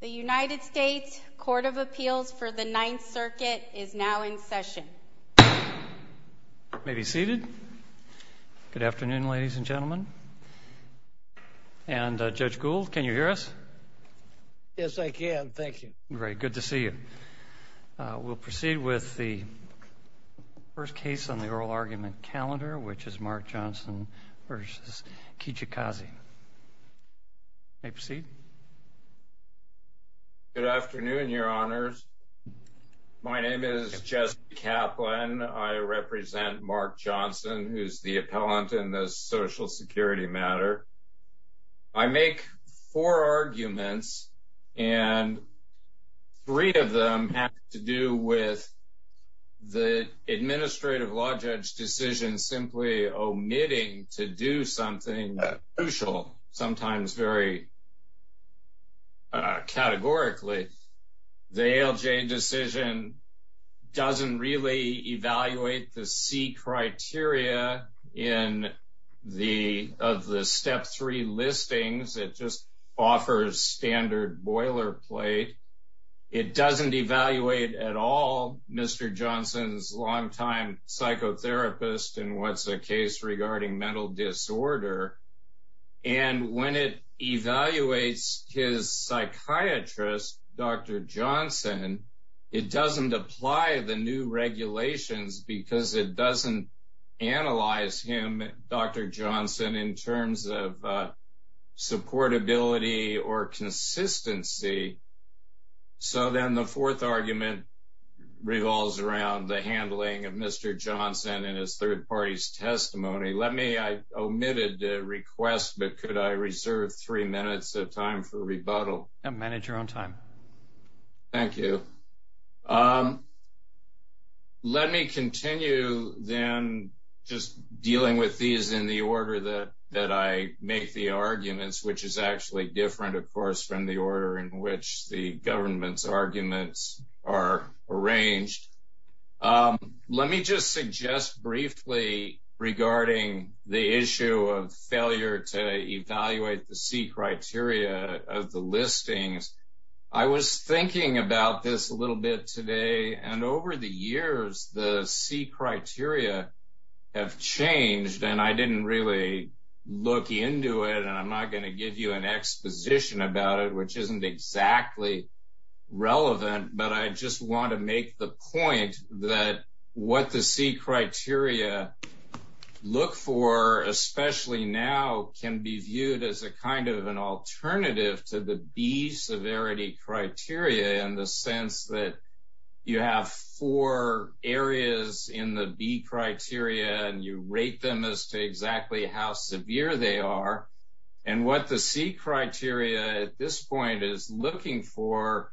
The United States Court of Appeals for the Ninth Circuit is now in session. You may be seated. Good afternoon, ladies and gentlemen. And Judge Gould, can you hear us? Yes, I can. Thank you. Great. Good to see you. We'll proceed with the first case on the oral argument calendar, which is Mark Johnson v. Kijakazi. You may proceed. Good afternoon, Your Honors. My name is Jesse Kaplan. I represent Mark Johnson, who is the appellant in this Social Security matter. I make four arguments, and three of them have to do with the administrative law judge decision simply omitting to do something crucial, sometimes very categorically. The ALJ decision doesn't really evaluate the C criteria of the Step 3 listings. It just offers standard boilerplate. It doesn't evaluate at all Mr. Johnson's longtime psychotherapist and what's the case regarding mental disorder. And when it evaluates his psychiatrist, Dr. Johnson, it doesn't apply the new regulations because it doesn't analyze him, Dr. Johnson, in terms of supportability or consistency. So then the fourth argument revolves around the handling of Mr. Johnson and his third party's testimony. I omitted the request, but could I reserve three minutes of time for rebuttal? Manage your own time. Thank you. Let me continue then just dealing with these in the order that I make the arguments, which is actually different, of course, from the order in which the government's arguments are arranged. Let me just suggest briefly regarding the issue of failure to evaluate the C criteria of the listings. I was thinking about this a little bit today and over the years the C criteria have changed and I didn't really look into it and I'm not going to give you an exposition about it, which isn't exactly relevant. But I just want to make the point that what the C criteria look for, especially now, can be viewed as a kind of an alternative to the B severity criteria in the sense that you have four areas in the B criteria and you rate them as to exactly how severe they are. And what the C criteria at this point is looking for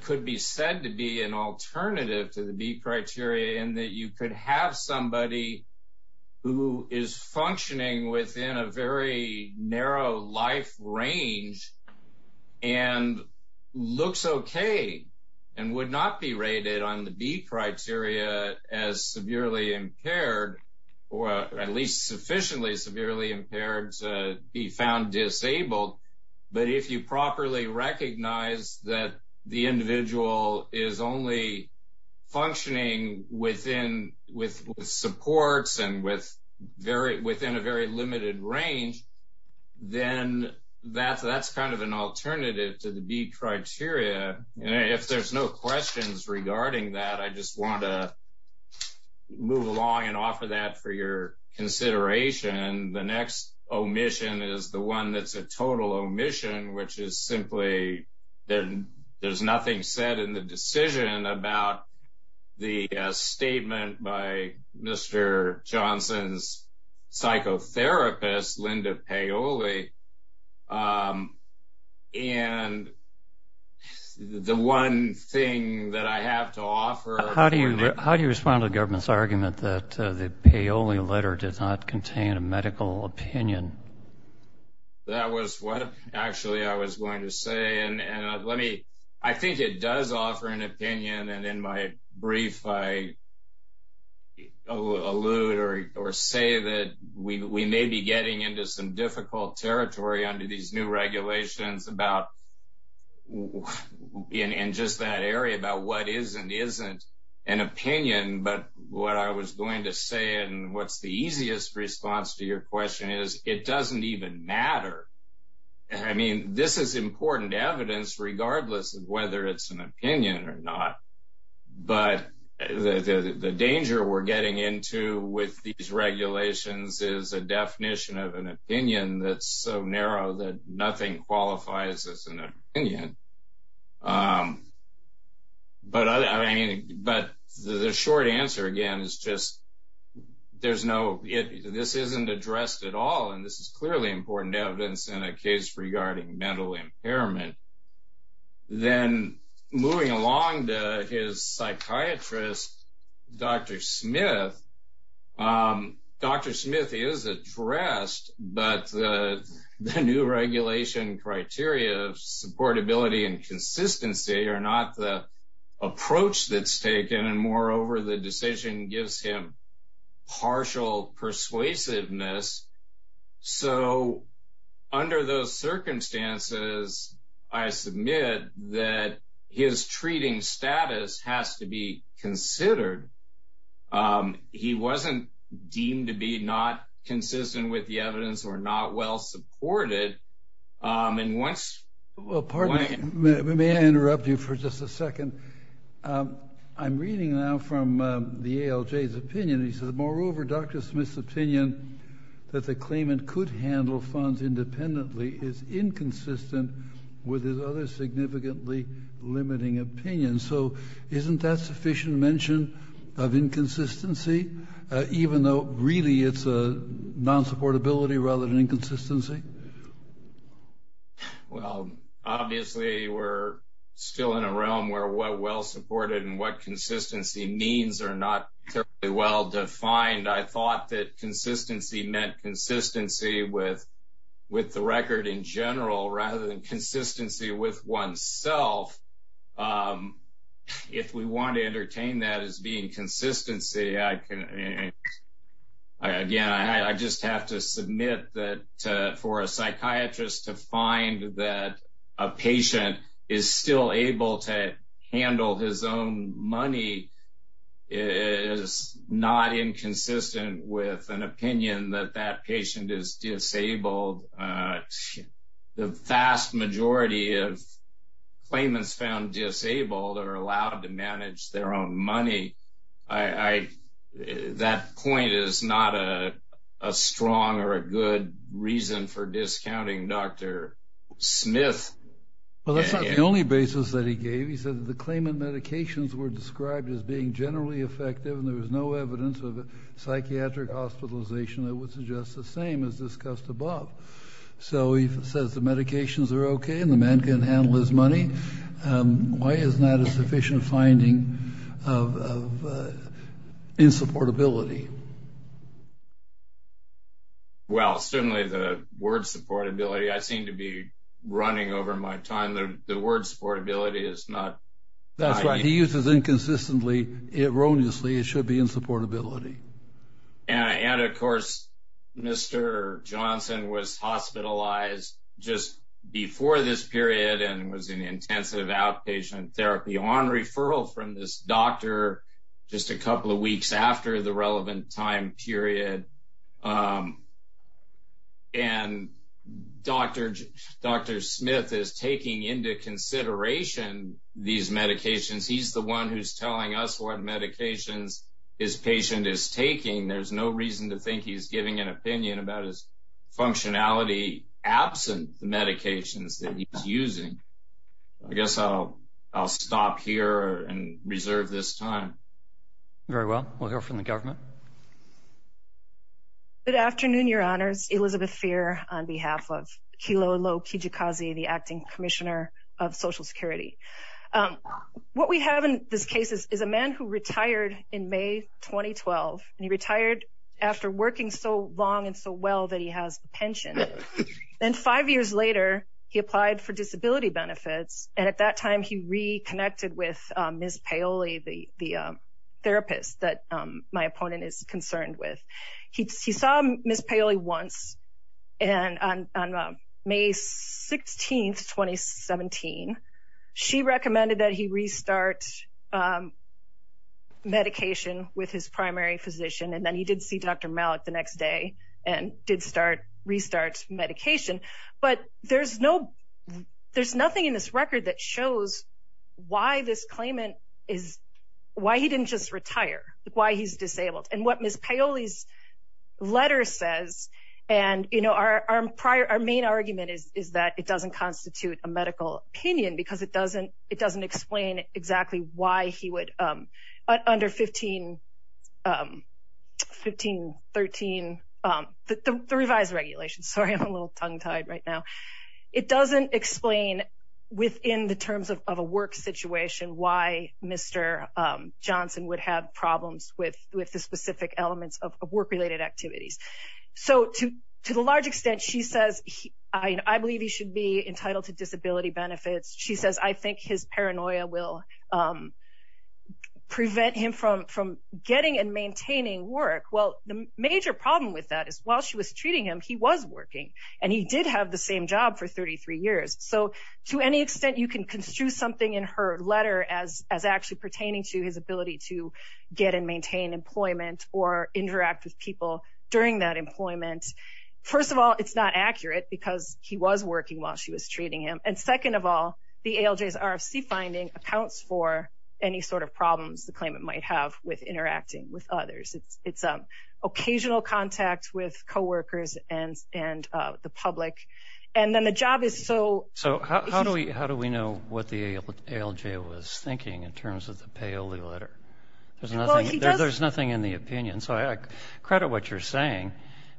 could be said to be an alternative to the B criteria in that you could have somebody who is functioning within a very narrow life range and looks okay and would not be rated on the B criteria as severely impaired or at least sufficiently severely impaired. And be found disabled. But if you properly recognize that the individual is only functioning with supports and within a very limited range, then that's kind of an alternative to the B criteria. And if there's no questions regarding that, I just want to move along and offer that for your consideration. The next omission is the one that's a total omission, which is simply that there's nothing said in the decision about the statement by Mr. Johnson's psychotherapist, Linda Paoli. And the one thing that I have to offer... How do you respond to the government's argument that the Paoli letter does not contain a medical opinion? That was what actually I was going to say. And let me... I think it does offer an opinion. And in my brief, I allude or say that we may be getting into some difficult territory under these new regulations about... It doesn't even matter. I mean, this is important evidence, regardless of whether it's an opinion or not. But the danger we're getting into with these regulations is a definition of an opinion that's so narrow that nothing qualifies as an opinion. But the short answer, again, is just there's no... This isn't addressed at all. And this is clearly important evidence in a case regarding mental impairment. Then moving along to his psychiatrist, Dr. Smith. Dr. Smith is addressed, but the new regulation criteria of supportability and consistency are not the approach that's taken. And moreover, the decision gives him partial persuasiveness. So under those circumstances, I submit that his treating status has to be considered. He wasn't deemed to be not consistent with the evidence or not well supported. And once... Well, pardon me. May I interrupt you for just a second? I'm reading now from the ALJ's opinion. He says, moreover, Dr. Smith's opinion that the claimant could handle funds independently is inconsistent with his other significantly limiting opinions. So isn't that sufficient mention of inconsistency, even though really it's a non-supportability rather than inconsistency? Well, obviously, we're still in a realm where what well supported and what consistency means are not terribly well defined. I thought that consistency meant consistency with the record in general rather than consistency with oneself. If we want to entertain that as being consistency, I can... Again, I just have to submit that for a psychiatrist to find that a patient is still able to handle his own money is not inconsistent with an opinion that that patient is disabled. The vast majority of claimants found disabled are allowed to manage their own money. That point is not a strong or a good reason for discounting Dr. Smith. Well, that's not the only basis that he gave. He said that the claimant medications were described as being generally effective and there was no evidence of psychiatric hospitalization that would suggest the same as discussed above. So he says the medications are okay and the man can handle his money. Why isn't that a sufficient finding of insupportability? Well, certainly the word supportability, I seem to be running over my time. The word supportability is not... That's right. He uses inconsistently, erroneously, it should be insupportability. And of course, Mr. Johnson was hospitalized just before this period and was in intensive outpatient therapy on referral from this doctor just a couple of weeks after the relevant time period. And Dr. Smith is taking into consideration these medications. He's the one who's telling us what medications his patient is taking. There's no reason to think he's giving an opinion about his functionality absent the medications that he's using. I guess I'll stop here and reserve this time. Very well. We'll hear from the government. Good afternoon, Your Honors. Elizabeth Feer on behalf of Kilolo Kijikazi, the Acting Commissioner of Social Security. What we have in this case is a man who retired in May 2012 and he retired after working so long and so well that he has a pension. And five years later, he applied for disability benefits. And at that time, he reconnected with Ms. Paoli, the therapist that my opponent is concerned with. He saw Ms. Paoli once and on May 16, 2017, she recommended that he restart medication with his primary physician. And then he did see Dr. Malik the next day and did restart medication. But there's nothing in this record that shows why he didn't just retire, why he's disabled. And what Ms. Paoli's letter says, and our main argument is that it doesn't constitute a medical opinion because it doesn't explain exactly why he would under 1513, the revised regulations. Sorry, I'm a little tongue-tied right now. It doesn't explain within the terms of a work situation why Mr. Johnson would have problems with the specific elements of work-related activities. So to the large extent, she says, I believe he should be entitled to disability benefits. She says, I think his paranoia will prevent him from getting and maintaining work. Well, the major problem with that is while she was treating him, he was working and he did have the same job for 33 years. So to any extent, you can construe something in her letter as actually pertaining to his ability to get and maintain employment or interact with people during that employment. First of all, it's not accurate because he was working while she was treating him. And second of all, the ALJ's RFC finding accounts for any sort of problems the claimant might have with interacting with others. It's occasional contact with co-workers and the public. So how do we know what the ALJ was thinking in terms of the Paoli letter? There's nothing in the opinion, so I credit what you're saying,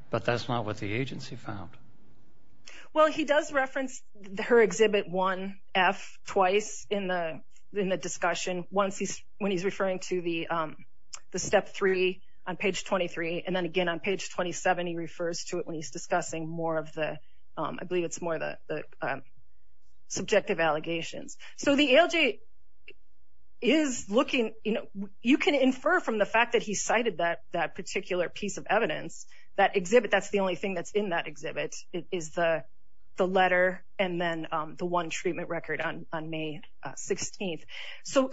but that's not what the agency found. Well, he does reference her Exhibit 1F twice in the discussion, once when he's referring to the Step 3 on page 23, and then again on page 27 he refers to it when he's discussing more of the, I believe it's more the subjective allegations. So the ALJ is looking, you can infer from the fact that he cited that particular piece of evidence, that exhibit, that's the only thing that's in that exhibit, is the letter and then the one treatment record on May 16th. So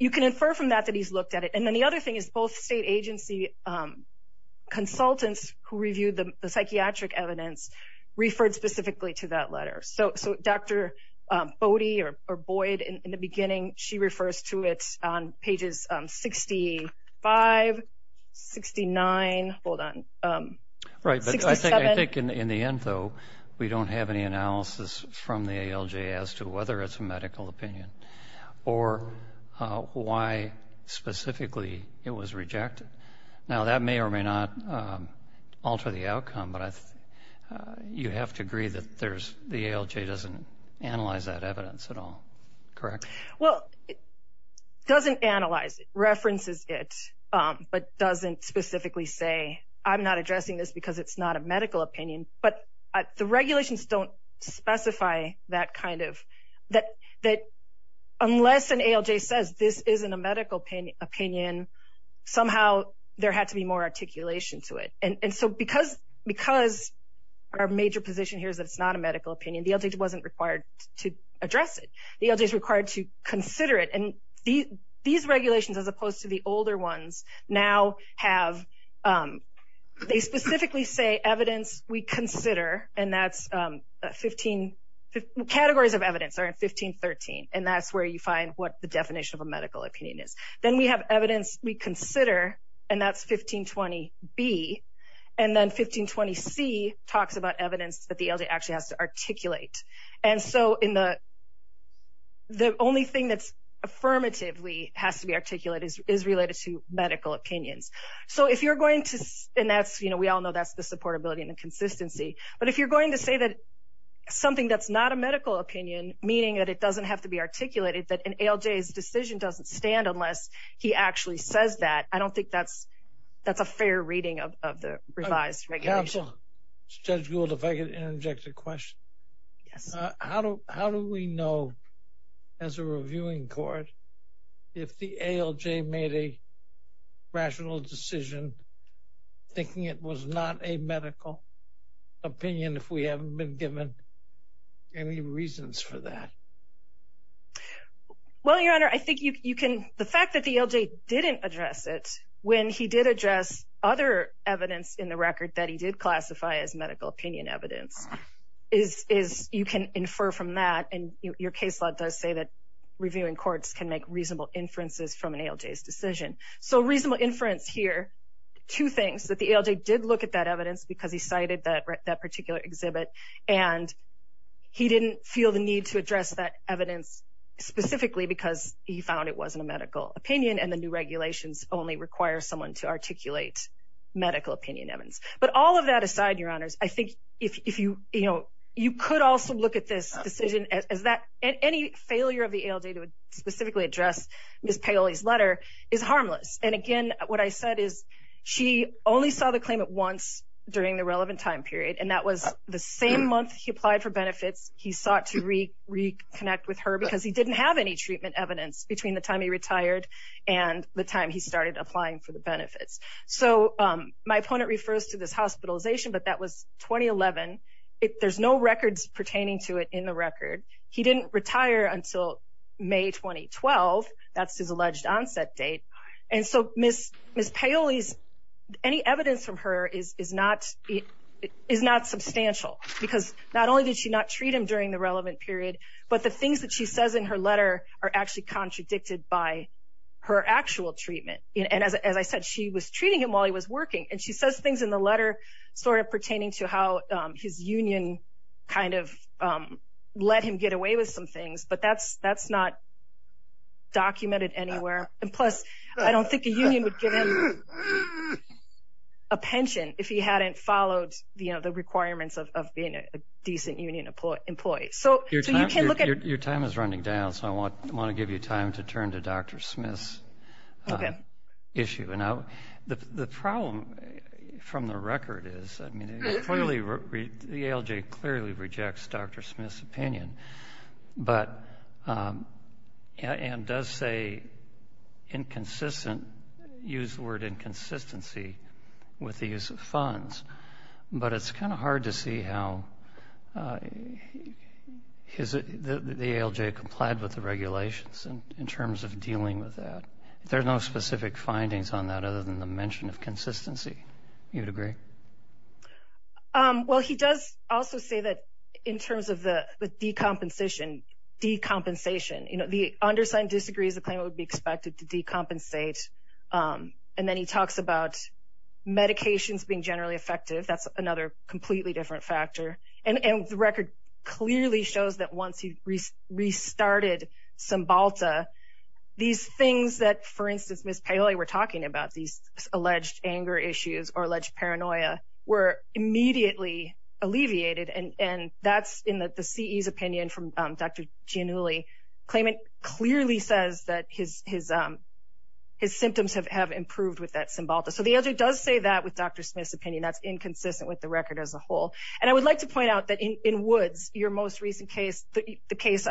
you can infer from that that he's looked at it. And then the other thing is both state agency consultants who reviewed the psychiatric evidence referred specifically to that letter. So Dr. Bode, or Boyd, in the beginning, she refers to it on pages 65, 69, hold on, 67. I think in the end, though, we don't have any analysis from the ALJ as to whether it's a medical opinion or why specifically it was rejected. Now that may or may not alter the outcome, but you have to agree that the ALJ doesn't analyze that evidence at all, correct? Well, it doesn't analyze it, references it, but doesn't specifically say, I'm not addressing this because it's not a medical opinion. But the regulations don't specify that kind of, that unless an ALJ says this isn't a medical opinion, somehow there had to be more articulation to it. And so because our major position here is that it's not a medical opinion, the ALJ wasn't required to address it. The ALJ is required to consider it. And these regulations, as opposed to the older ones, now have, they specifically say evidence we consider, and that's 15, categories of evidence are in 1513. And that's where you find what the definition of a medical opinion is. Then we have evidence we consider, and that's 1520B. And then 1520C talks about evidence that the ALJ actually has to articulate. And so in the, the only thing that's affirmatively has to be articulated is related to medical opinions. So if you're going to, and that's, you know, we all know that's the supportability and the consistency, but if you're going to say that something that's not a medical opinion, meaning that it doesn't have to be articulated, that an ALJ's decision doesn't stand unless he actually says that, I don't think that's, that's a fair reading of the revised regulation. Judge Gould, if I could interject a question. Yes. How do, how do we know as a reviewing court, if the ALJ made a rational decision thinking it was not a medical opinion if we haven't been given any reasons for that? Well, Your Honor, I think you can, the fact that the ALJ didn't address it when he did address other evidence in the record that he did classify as medical opinion evidence is, is you can infer from that. And your case law does say that reviewing courts can make reasonable inferences from an ALJ's decision. So reasonable inference here, two things, that the ALJ did look at that evidence because he cited that, that particular exhibit and he didn't feel the need to address that evidence specifically because he found it wasn't a medical opinion and the new regulations only require someone to articulate medical opinion evidence. But all of that aside, Your Honors, I think if you, you know, you could also look at this decision as that any failure of the ALJ to specifically address Ms. Paoli's letter is harmless. And again, what I said is she only saw the claim at once during the relevant time period and that was the same month he applied for benefits. He sought to reconnect with her because he didn't have any treatment evidence between the time he retired and the time he started applying for the benefits. So my opponent refers to this hospitalization, but that was 2011. There's no records pertaining to it in the record. He didn't retire until May 2012. That's his alleged onset date. And so Ms. Paoli's, any evidence from her is not substantial because not only did she not treat him during the relevant period, but the things that she says in her letter are actually contradicted by her actual treatment. And as I said, she was treating him while he was working. And she says things in the letter sort of pertaining to how his union kind of let him get away with some things, but that's not documented anywhere. And plus, I don't think a union would give him a pension if he hadn't followed, you know, the requirements of being a decent union employee. Your time is running down, so I want to give you time to turn to Dr. Smith's issue. The problem from the record is the ALJ clearly rejects Dr. Smith's opinion and does say inconsistent, use the word inconsistency, with the use of funds. But it's kind of hard to see how the ALJ complied with the regulations in terms of dealing with that. There are no specific findings on that other than the mention of consistency. Do you agree? Well, he does also say that in terms of the decompensation, you know, the undersigned disagrees the claimant would be expected to decompensate. And then he talks about medications being generally effective. That's another completely different factor. And the record clearly shows that once he restarted Cymbalta, these things that, for instance, Ms. Paoli were talking about, these alleged anger issues or alleged paranoia, were immediately alleviated. And that's in the CE's opinion from Dr. Giannulli. The claimant clearly says that his symptoms have improved with that Cymbalta. So the ALJ does say that with Dr. Smith's opinion. That's inconsistent with the record as a whole. And I would like to point out that in Woods, your most recent case, the case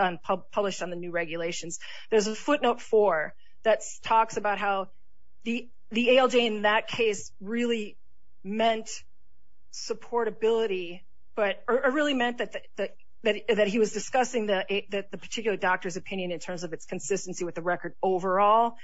published on the new regulations, there's a footnote four that talks about how the ALJ in that case really meant supportability, or really meant that he was discussing the particular doctor's opinion in terms of its consistency with the record overall.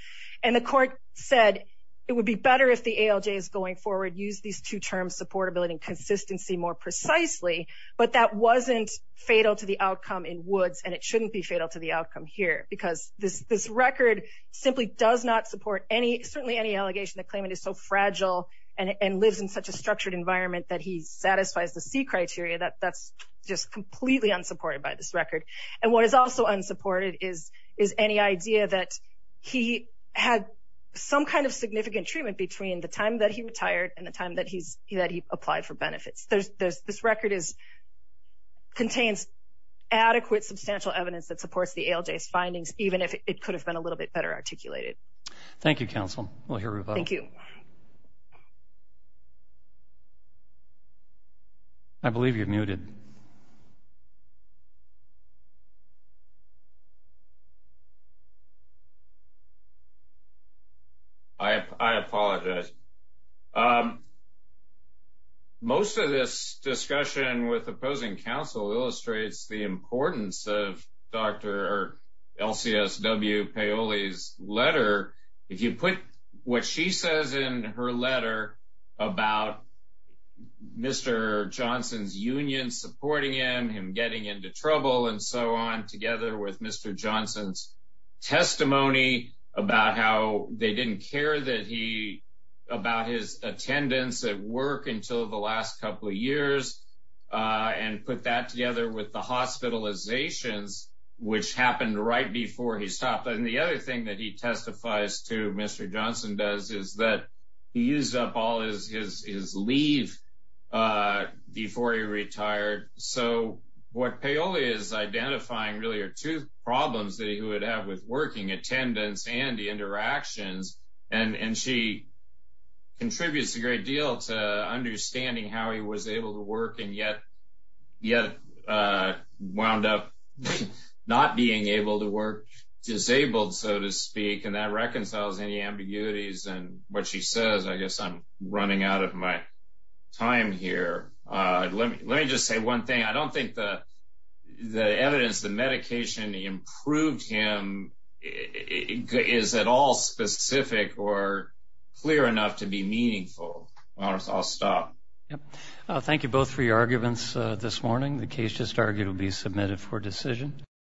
And the court said it would be better if the ALJ is going forward, use these two terms supportability and consistency more precisely. But that wasn't fatal to the outcome in Woods, and it shouldn't be fatal to the outcome here. Because this record simply does not support any, certainly any allegation that claimant is so fragile and lives in such a structured environment that he satisfies the C criteria. That's just completely unsupported by this record. And what is also unsupported is any idea that he had some kind of significant treatment between the time that he retired and the time that he applied for benefits. This record contains adequate, substantial evidence that supports the ALJ's findings, even if it could have been a little bit better articulated. Thank you, counsel. We'll hear from you. Thank you. I believe you're muted. I apologize. Most of this discussion with opposing counsel illustrates the importance of Dr. LCSW Paoli's letter. If you put what she says in her letter about Mr. Johnson's union supporting him, him getting into trouble and so on, together with Mr. Johnson's testimony about how they didn't care about his attendance at work until the last couple of years, and put that together with the hospitalizations, which happened right before he stopped. And the other thing that he testifies to, Mr. Johnson does, is that he used up all his leave before he retired. So what Paoli is identifying really are two problems that he would have with working attendance and the interactions. And she contributes a great deal to understanding how he was able to work and yet wound up not being able to work, disabled, so to speak. And that reconciles any ambiguities in what she says. I guess I'm running out of my time here. Let me just say one thing. I don't think the evidence, the medication, the improved him is at all specific or clear enough to be meaningful. I'll stop. Thank you both for your arguments this morning. The case just argued will be submitted for decision.